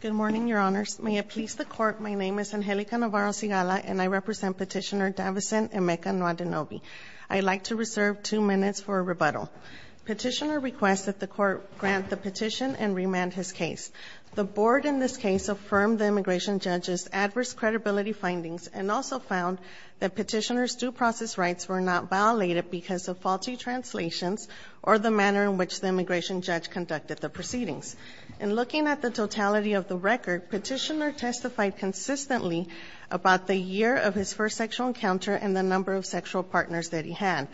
Good morning, Your Honors. May it please the Court, my name is Angelica Navarro-Sigala and I represent Petitioner Davicin Emeka Nwadinobi. I'd like to reserve two minutes for a rebuttal. Petitioner requests that the Court grant the petition and remand his case. The Board in this case affirmed the immigration judge's adverse credibility findings and also found that petitioner's due process rights were not violated because of faulty translations or the manner in which the immigration judge conducted the proceedings. In looking at the totality of the record, Petitioner testified consistently about the year of his first sexual encounter and the number of sexual partners that he had.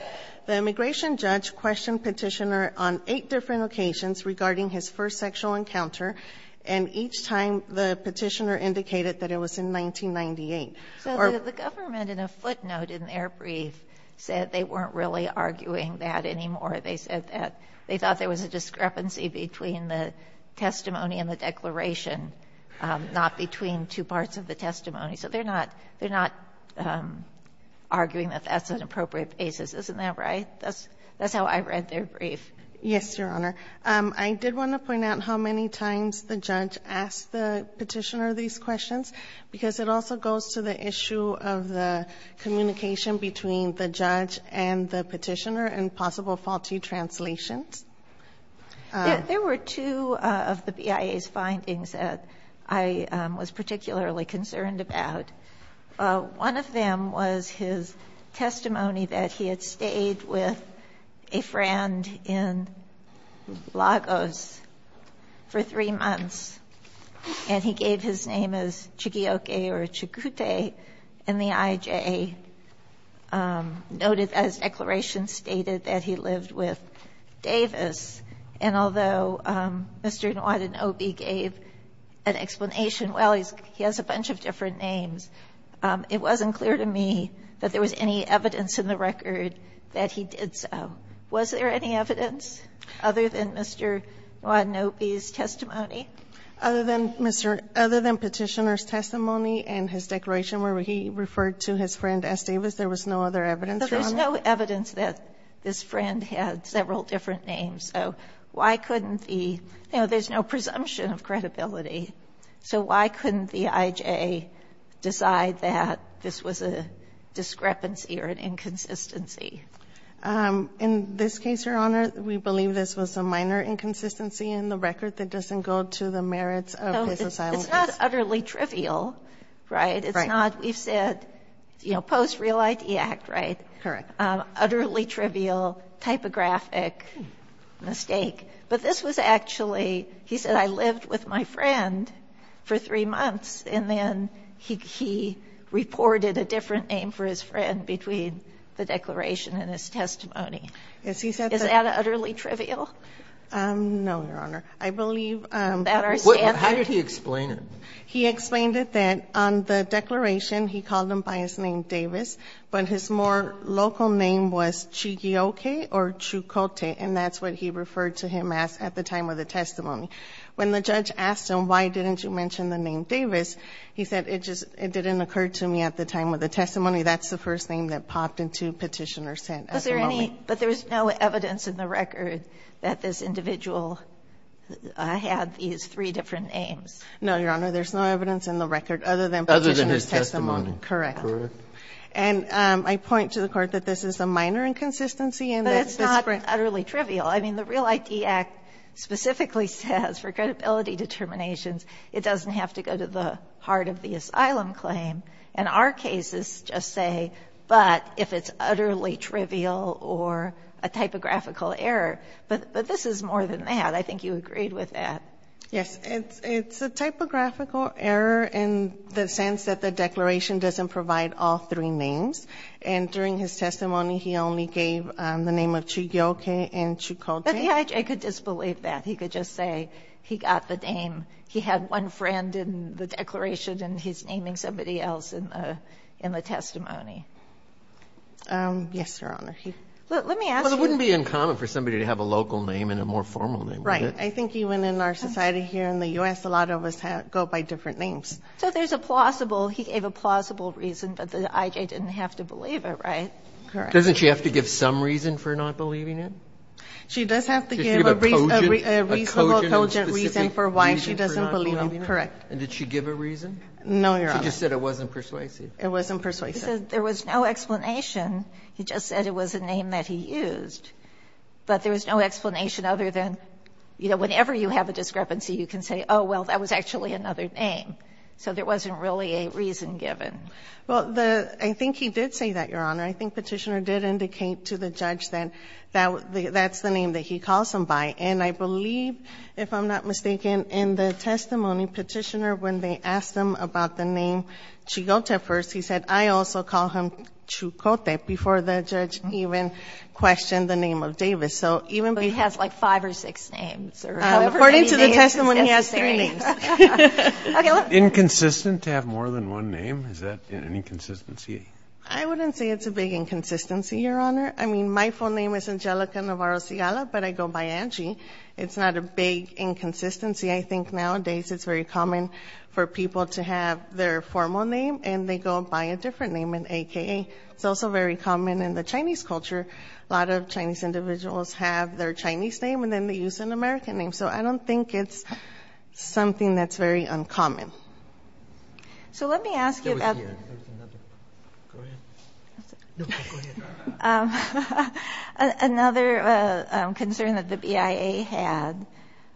The immigration judge questioned Petitioner on eight different occasions regarding his first sexual encounter and each time the petitioner indicated that it was in 1998. So the government, in a footnote in their brief, said they weren't really arguing that anymore. They said that they thought there was a discrepancy between the testimony and the declaration, not between two parts of the testimony. So they're not arguing that that's an appropriate basis. Isn't that right? That's how I read their brief. Yes, Your Honor. I did want to point out how many times the judge asked the petitioner these questions, because it also goes to the issue of the communication between the judge and the petitioner and possible faulty translations. There were two of the BIA's findings that I was particularly concerned about. One of them was his testimony that he had stayed with a friend in Lagos for three months, and he gave his name as Chigioke or Chigute, and the IJA noted as declarations stated that he lived with Davis. And although Mr. Nwoden-Obi gave an explanation, well, he has a bunch of different names, it wasn't clear to me that there was any evidence in the record that he did so. Was there any evidence other than Mr. Nwoden-Obi's testimony? Other than Petitioner's testimony and his declaration where he referred to his friend There's no evidence that this friend had several different names, so why couldn't the, you know, there's no presumption of credibility, so why couldn't the IJA decide that this was a discrepancy or an inconsistency? In this case, Your Honor, we believe this was a minor inconsistency in the record that doesn't go to the merits of his asylum case. It's not utterly trivial, right? Right. It's not, we've said, you know, post-real ID act, right? Correct. Utterly trivial typographic mistake. But this was actually, he said, I lived with my friend for three months, and then he reported a different name for his friend between the declaration and his testimony. Is that utterly trivial? No, Your Honor. I believe that our standpoint How did he explain it? He explained it that on the declaration, he called him by his name Davis, but his more local name was Chigioke or Chukote, and that's what he referred to him as at the time of the testimony. When the judge asked him, why didn't you mention the name Davis, he said, it just didn't occur to me at the time of the testimony. That's the first name that popped into Petitioner's head at the moment. But there's no evidence in the record that this individual had these three different names. No, Your Honor. There's no evidence in the record other than Petitioner's testimony. Correct. Correct. And I point to the Court that this is a minor inconsistency in this case. But it's not utterly trivial. I mean, the Real ID Act specifically says for credibility determinations, it doesn't have to go to the heart of the asylum claim. And our cases just say, but if it's utterly trivial or a typographical error, but this is more than that. I think you agreed with that. Yes. It's a typographical error in the sense that the declaration doesn't provide all three names. And during his testimony, he only gave the name of Chugioke and Chukote. But the judge, I could disbelieve that. He could just say he got the name. He had one friend in the declaration, and he's naming somebody else in the testimony. Yes, Your Honor. Let me ask you. Well, it wouldn't be uncommon for somebody to have a local name and a more formal name, would it? Right. I think even in our society here in the U.S., a lot of us go by different names. So there's a plausible, he gave a plausible reason, but the IJ didn't have to believe it, right? Correct. Doesn't she have to give some reason for not believing it? She does have to give a reason, a reasonable, cogent reason for why she doesn't believe it. Correct. And did she give a reason? No, Your Honor. She just said it wasn't persuasive. It wasn't persuasive. He said there was no explanation. He just said it was a name that he used. But there was no explanation other than, you know, whenever you have a discrepancy, you can say, oh, well, that was actually another name. So there wasn't really a reason given. Well, the — I think he did say that, Your Honor. I think Petitioner did indicate to the judge that that's the name that he calls him by. And I believe, if I'm not mistaken, in the testimony, Petitioner, when they asked him about the name Chigote first, he said, I also call him Chukote, before the judge even questioned the name of Davis. So even — But he has, like, five or six names. According to the testimony, he has three names. Inconsistent to have more than one name? Is that an inconsistency? I wouldn't say it's a big inconsistency, Your Honor. I mean, my full name is Angelica Navarro-Sigala, but I go by Angie. It's not a big inconsistency. I think nowadays it's very common for people to have their formal name, and they go by a different name, an AKA. It's also very common in the Chinese culture. A lot of Chinese individuals have their Chinese name, and then they use an American name. So I don't think it's something that's very uncommon. So let me ask you about — There was another. Go ahead. No, go ahead. Another concern that the BIA had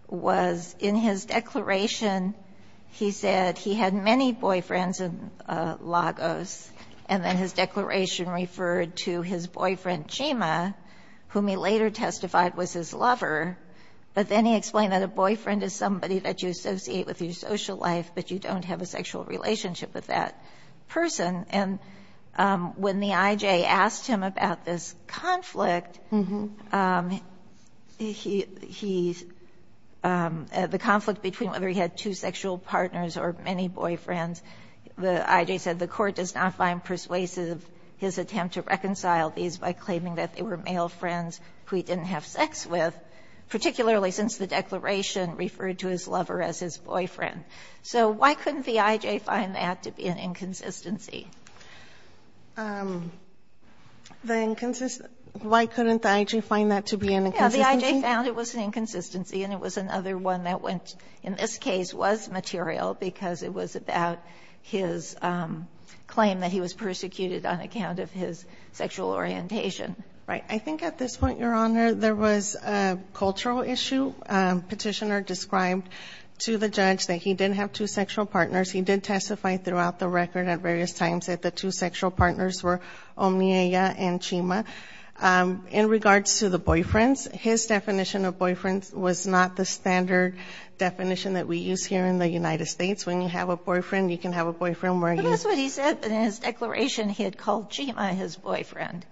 was, in his declaration, he said he had many boyfriends in Lagos, and then his declaration referred to his boyfriend, Chima, whom he later testified was his lover. But then he explained that a boyfriend is somebody that you associate with your social life, but you don't have a sexual relationship with that person. And when the IJ asked him about this conflict, he — the conflict between whether he had two sexual partners or many boyfriends, the IJ said the court does not find persuasive his attempt to reconcile these by claiming that they were male friends who he didn't have sex with, particularly since the declaration referred to his lover as his boyfriend. So why couldn't the IJ find that to be an inconsistency? Why couldn't the IJ find that to be an inconsistency? Yeah, the IJ found it was an inconsistency, and it was another one that went — in this case was material, because it was about his claim that he was persecuted on account of his sexual orientation. Right. I think at this point, Your Honor, there was a cultural issue. Petitioner described to the judge that he didn't have two sexual partners. He did testify throughout the record at various times that the two sexual partners were Omieya and Chima. In regards to the boyfriends, his definition of boyfriends was not the standard definition that we use here in the United States. When you have a boyfriend, you can have a boyfriend where you — But that's what he said. In his declaration, he had called Chima his boyfriend.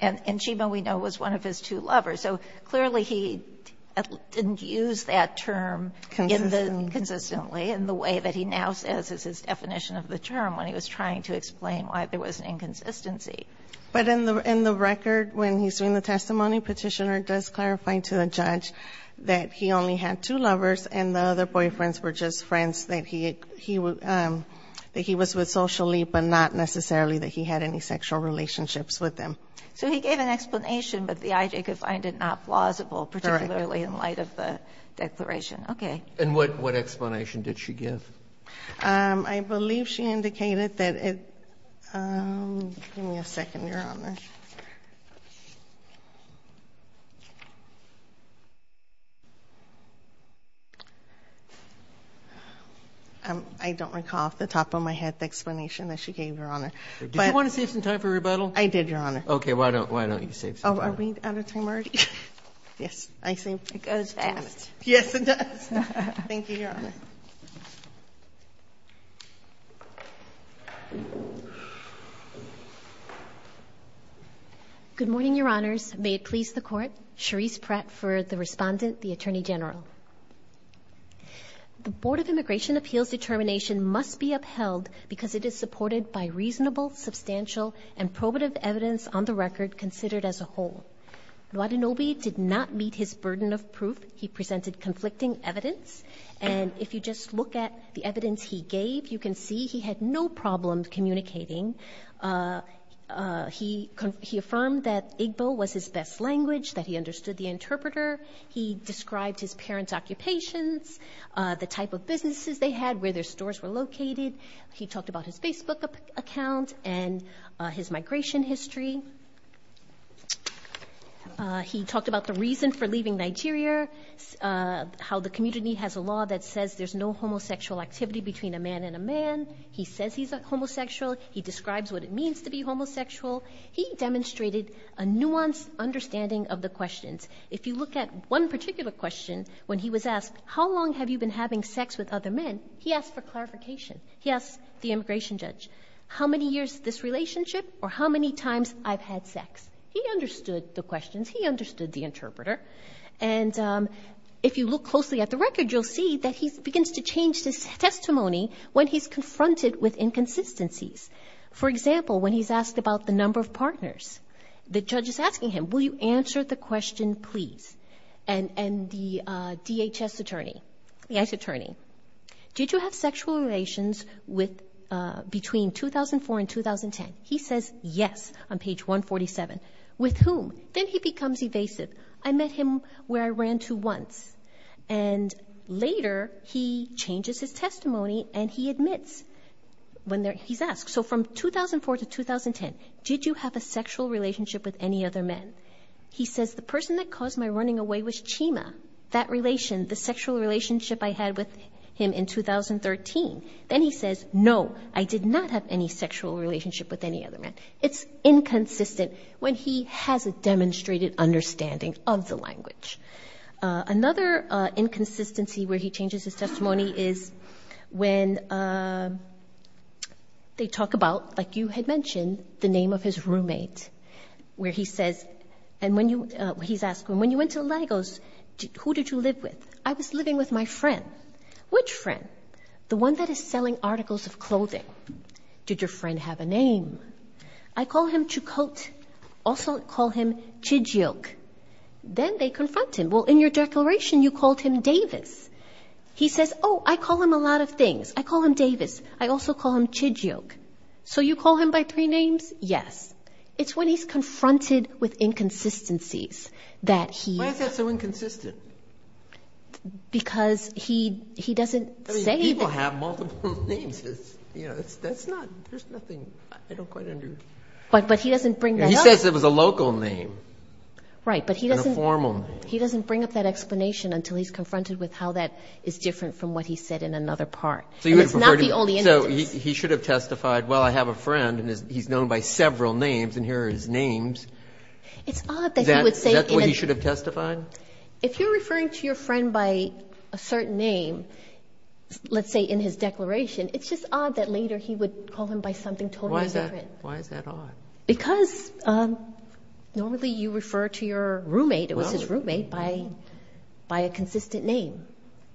And Chima, we know, was one of his two lovers. So clearly, he didn't use that term in the — Consistently. Consistently in the way that he now says is his definition of the term when he was trying to explain why there was an inconsistency. But in the — in the record, when he's doing the testimony, Petitioner does clarify to the judge that he only had two lovers and the other boyfriends were just friends that he — he — that he was with socially, but not necessarily that he had any sexual relationships with them. So he gave an explanation, but the IJ could find it not plausible, particularly in light of the declaration. Correct. Okay. And what — what explanation did she give? I believe she indicated that it — give me a second, Your Honor. I don't recall off the top of my head the explanation that she gave, Your Honor. Did you want to save some time for rebuttal? I did, Your Honor. Okay. Why don't — why don't you save some time? Oh, are we out of time already? Yes. I saved — It goes fast. Yes, it does. Thank you, Your Honor. Good morning, Your Honors. May it please the Court. Cherise Pratt for the Respondent, the Attorney General. The Board of Immigration Appeals determination must be upheld because it is supported by reasonable, substantial, and probative evidence on the record considered as a whole. Luadenobi did not meet his burden of proof. He presented conflicting evidence. And if you just look at the evidence he gave, you can see he had no problem communicating. He — he affirmed that Igbo was his best language, that he understood the interpreter. He described his parents' occupations, the type of businesses they had, where their stores were located. He talked about his Facebook account and his migration history. He talked about the reason for leaving Nigeria, how the community has a law that says there's no homosexual activity between a man and a man. He says he's a homosexual. He describes what it means to be homosexual. He demonstrated a nuanced understanding of the questions. If you look at one particular question, when he was asked, how long have you been having sex with other men, he asked for clarification. He asked the immigration judge, how many years this relationship or how many times I've had sex. He understood the questions. He understood the interpreter. And if you look closely at the record, you'll see that he begins to change his testimony when he's confronted with inconsistencies. For example, when he's asked about the number of partners, the judge is asking him, will you answer the question, please? And the DHS attorney — the ICE attorney, did you have sexual relations with — between 2004 and 2010? He says, yes, on page 147. With whom? Then he becomes evasive. I met him where I ran to once. And later, he changes his testimony and he admits when he's asked. So from 2004 to 2010, did you have a sexual relationship with any other men? He says, the person that caused my running away was Chima. That relation, the sexual relationship I had with him in 2013. Then he says, no, I did not have any sexual relationship with any other man. It's inconsistent when he has a demonstrated understanding of the language. Another inconsistency where he changes his testimony is when they talk about, like you had mentioned, the name of his roommate, where he says — and when you — he's asked him, when you went to Lagos, who did you live with? I was living with my friend. Which friend? The one that is selling articles of clothing. Did your friend have a name? I call him Chukot. Also call him Chijok. Then they confront him. Well, in your declaration, you called him Davis. He says, oh, I call him a lot of things. I call him Davis. I also call him Chijok. So you call him by three names? Yes. It's when he's confronted with inconsistencies that he — Why is that so inconsistent? Because he doesn't say that — I mean, people have multiple names. You know, that's not — there's nothing — I don't quite understand. But he doesn't bring that up. He says it was a local name. Right, but he doesn't — And a formal name. He doesn't bring up that explanation until he's confronted with how that is different from what he said in another part. So you would prefer to — And it's not the only instance. So he should have testified, well, I have a friend, and he's known by several names, and here are his names. It's odd that he would say — Is that what he should have testified? If you're referring to your friend by a certain name, let's say in his declaration, it's just odd that later he would call him by something totally different. Why is that odd? Because normally you refer to your roommate — it was his roommate — by a consistent name.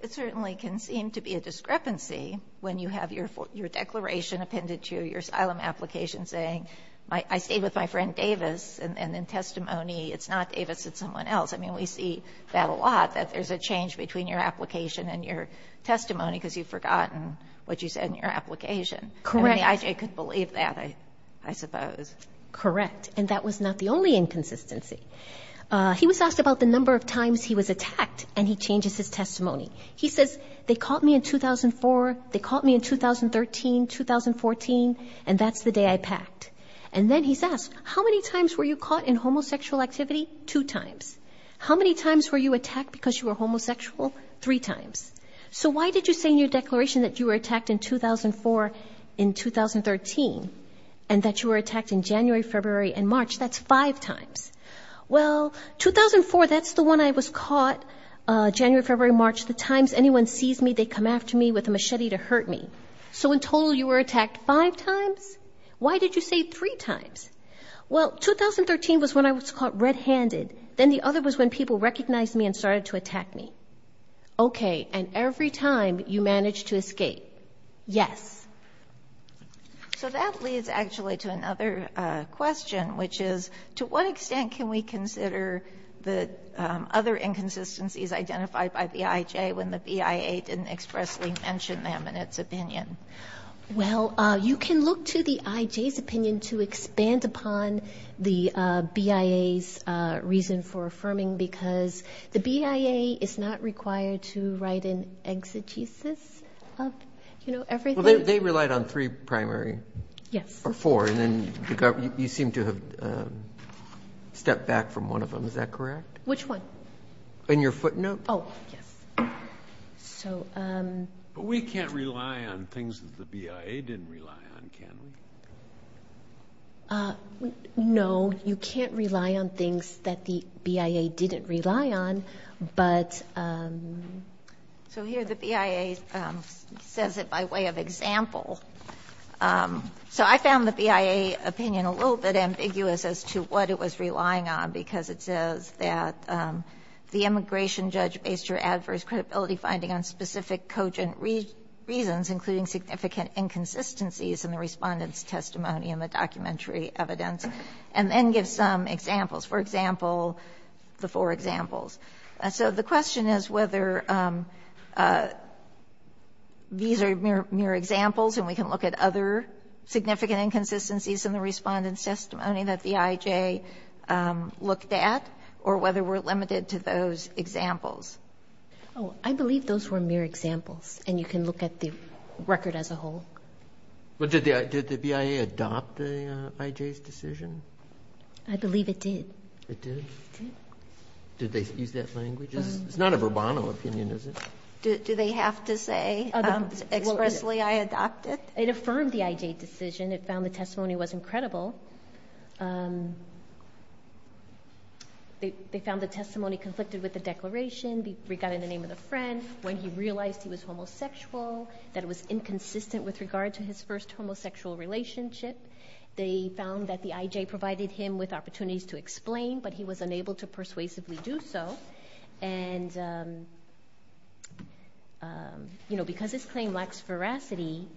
It certainly can seem to be a discrepancy when you have your declaration appended to you, your asylum application saying, I stayed with my friend Davis, and in testimony, it's not Davis, it's someone else. I mean, we see that a lot, that there's a change between your application and your testimony because you've forgotten what you said in your application. Correct. I could believe that, I suppose. Correct. And that was not the only inconsistency. He was asked about the number of times he was attacked, and he changes his testimony. He says, they caught me in 2004, they caught me in 2013, 2014, and that's the day I packed. And then he's asked, how many times were you caught in homosexual activity? Two times. How many times were you attacked because you were homosexual? Three times. So why did you say in your declaration that you were attacked in 2004, in 2013, and that you were attacked in January, February, and March? That's five times. Well, 2004, that's the one I was caught, January, February, March, the times anyone sees me, they come after me with a machete to hurt me. So in total, you were attacked five times? Why did you say three times? Well, 2013 was when I was caught red-handed. Then the other was when people recognized me and started to attack me. Okay, and every time you managed to escape? Yes. So that leads, actually, to another question, which is to what extent can we consider the other inconsistencies identified by the IJ when the BIA didn't expressly mention them in its opinion? Well, you can look to the IJ's opinion to expand upon the BIA's reason for affirming, because the BIA is not required to write an exegesis of, you know, everything. Well, they relied on three primary. Yes. Or four, and then you seem to have stepped back from one of them. Is that correct? Which one? In your footnote. Oh, yes. But we can't rely on things that the BIA didn't rely on, can we? No, you can't rely on things that the BIA didn't rely on. So here the BIA says it by way of example. So I found the BIA opinion a little bit ambiguous as to what it was relying on, because it says that the immigration judge based your adverse credibility finding on specific cogent reasons, including significant inconsistencies in the Respondent's testimony in the documentary evidence, and then gives some examples. For example, the four examples. So the question is whether these are mere examples and we can look at other significant inconsistencies in the Respondent's testimony that the IJ looked at, or whether we're limited to those examples. Oh, I believe those were mere examples, and you can look at the record as a whole. But did the BIA adopt the IJ's decision? I believe it did. It did? It did. Did they use that language? It's not a verbatim opinion, is it? Do they have to say expressly I adopt it? It affirmed the IJ decision. It found the testimony was incredible. They found the testimony conflicted with the declaration regarding the name of the friend, when he realized he was homosexual, that it was inconsistent with regard to his first homosexual relationship. They found that the IJ provided him with opportunities to explain, but he was unable to persuasively do so. And, you know, because his claim lacks veracity,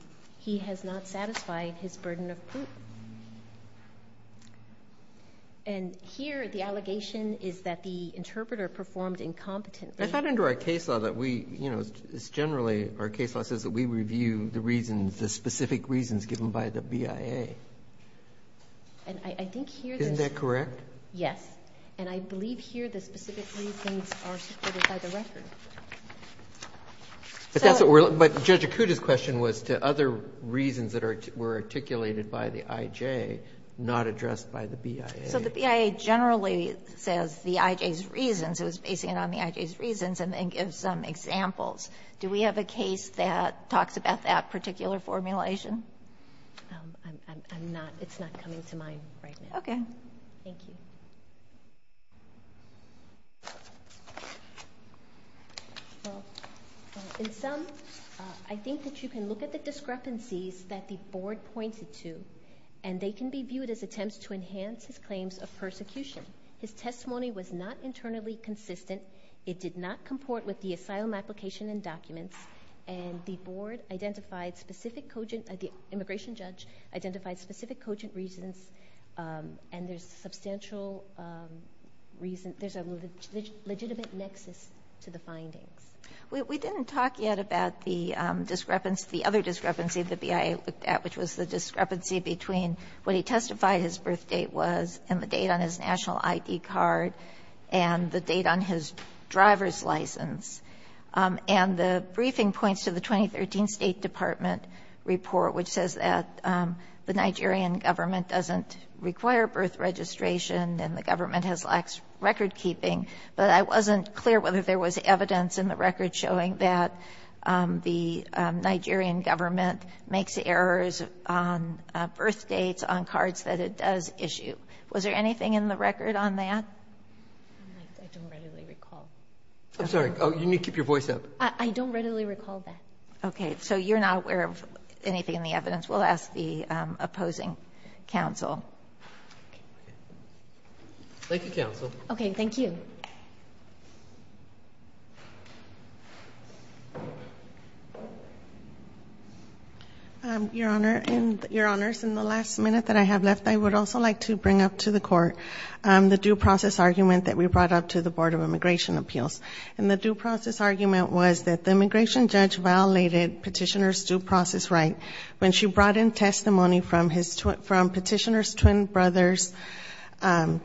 he has not satisfied his burden of proof. And here the allegation is that the interpreter performed incompetently. I thought under our case law that we, you know, it's generally our case law says that we review the reasons, the specific reasons given by the BIA. And I think here that's correct. Yes. And I believe here the specific reasons are supported by the record. But that's what we're looking for. Judge Acuda's question was to other reasons that were articulated by the IJ, not addressed by the BIA. So the BIA generally says the IJ's reasons, it was basing it on the IJ's reasons, and then gives some examples. Do we have a case that talks about that particular formulation? I'm not, it's not coming to mind right now. Okay. Thank you. Well, in sum, I think that you can look at the discrepancies that the board pointed to, and they can be viewed as attempts to enhance his claims of persecution. His testimony was not internally consistent. It did not comport with the asylum application and documents. And the board identified specific cogent, the immigration judge identified specific cogent reasons, and there's substantial reason, there's a legitimate nexus to the findings. We didn't talk yet about the discrepancy, the other discrepancy the BIA looked at, which was the discrepancy between what he testified his birth date was, and the date on his national ID card, and the date on his driver's license. And the briefing points to the 2013 State Department report, which says that the Nigerian government doesn't require birth registration, and the government has lax record keeping. But I wasn't clear whether there was evidence in the record showing that the Nigerian government makes errors on birth dates on cards that it does issue. Was there anything in the record on that? I don't readily recall. I'm sorry. You need to keep your voice up. I don't readily recall that. Okay. So you're not aware of anything in the evidence. We'll ask the opposing counsel. Thank you, counsel. Okay. Thank you. Your Honor, your Honors, in the last minute that I have left, I would also like to bring up to the court the due process argument that we brought up to the Board of Immigration Appeals. And the due process argument was that the immigration judge violated Petitioner's due process right when she brought in testimony from Petitioner's twin brother's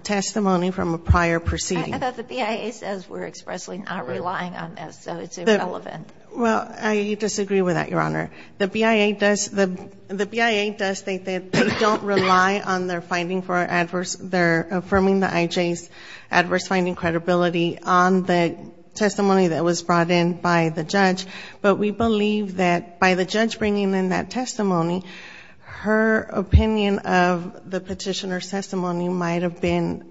testimony from a prior proceeding. I thought the BIA says we're expressly not relying on this, so it's irrelevant. Well, I disagree with that, your Honor. The BIA does think that they don't rely on their finding for adverse, they're affirming the IJ's adverse finding credibility on the testimony that was brought in by the judge. But we believe that by the judge bringing in that testimony, her opinion of the Petitioner's testimony might have been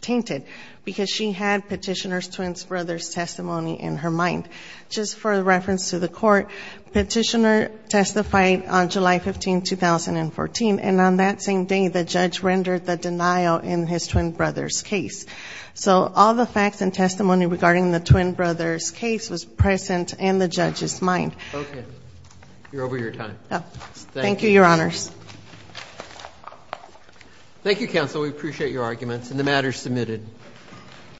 tainted because she had Petitioner's twin brother's testimony in her mind. Just for reference to the court, Petitioner testified on July 15, 2014. And on that same day, the judge rendered the denial in his twin brother's case. So all the facts and testimony regarding the twin brother's case was present in the judge's mind. Okay. You're over your time. Thank you, your Honors. Thank you, counsel. We appreciate your arguments. And the matter is submitted.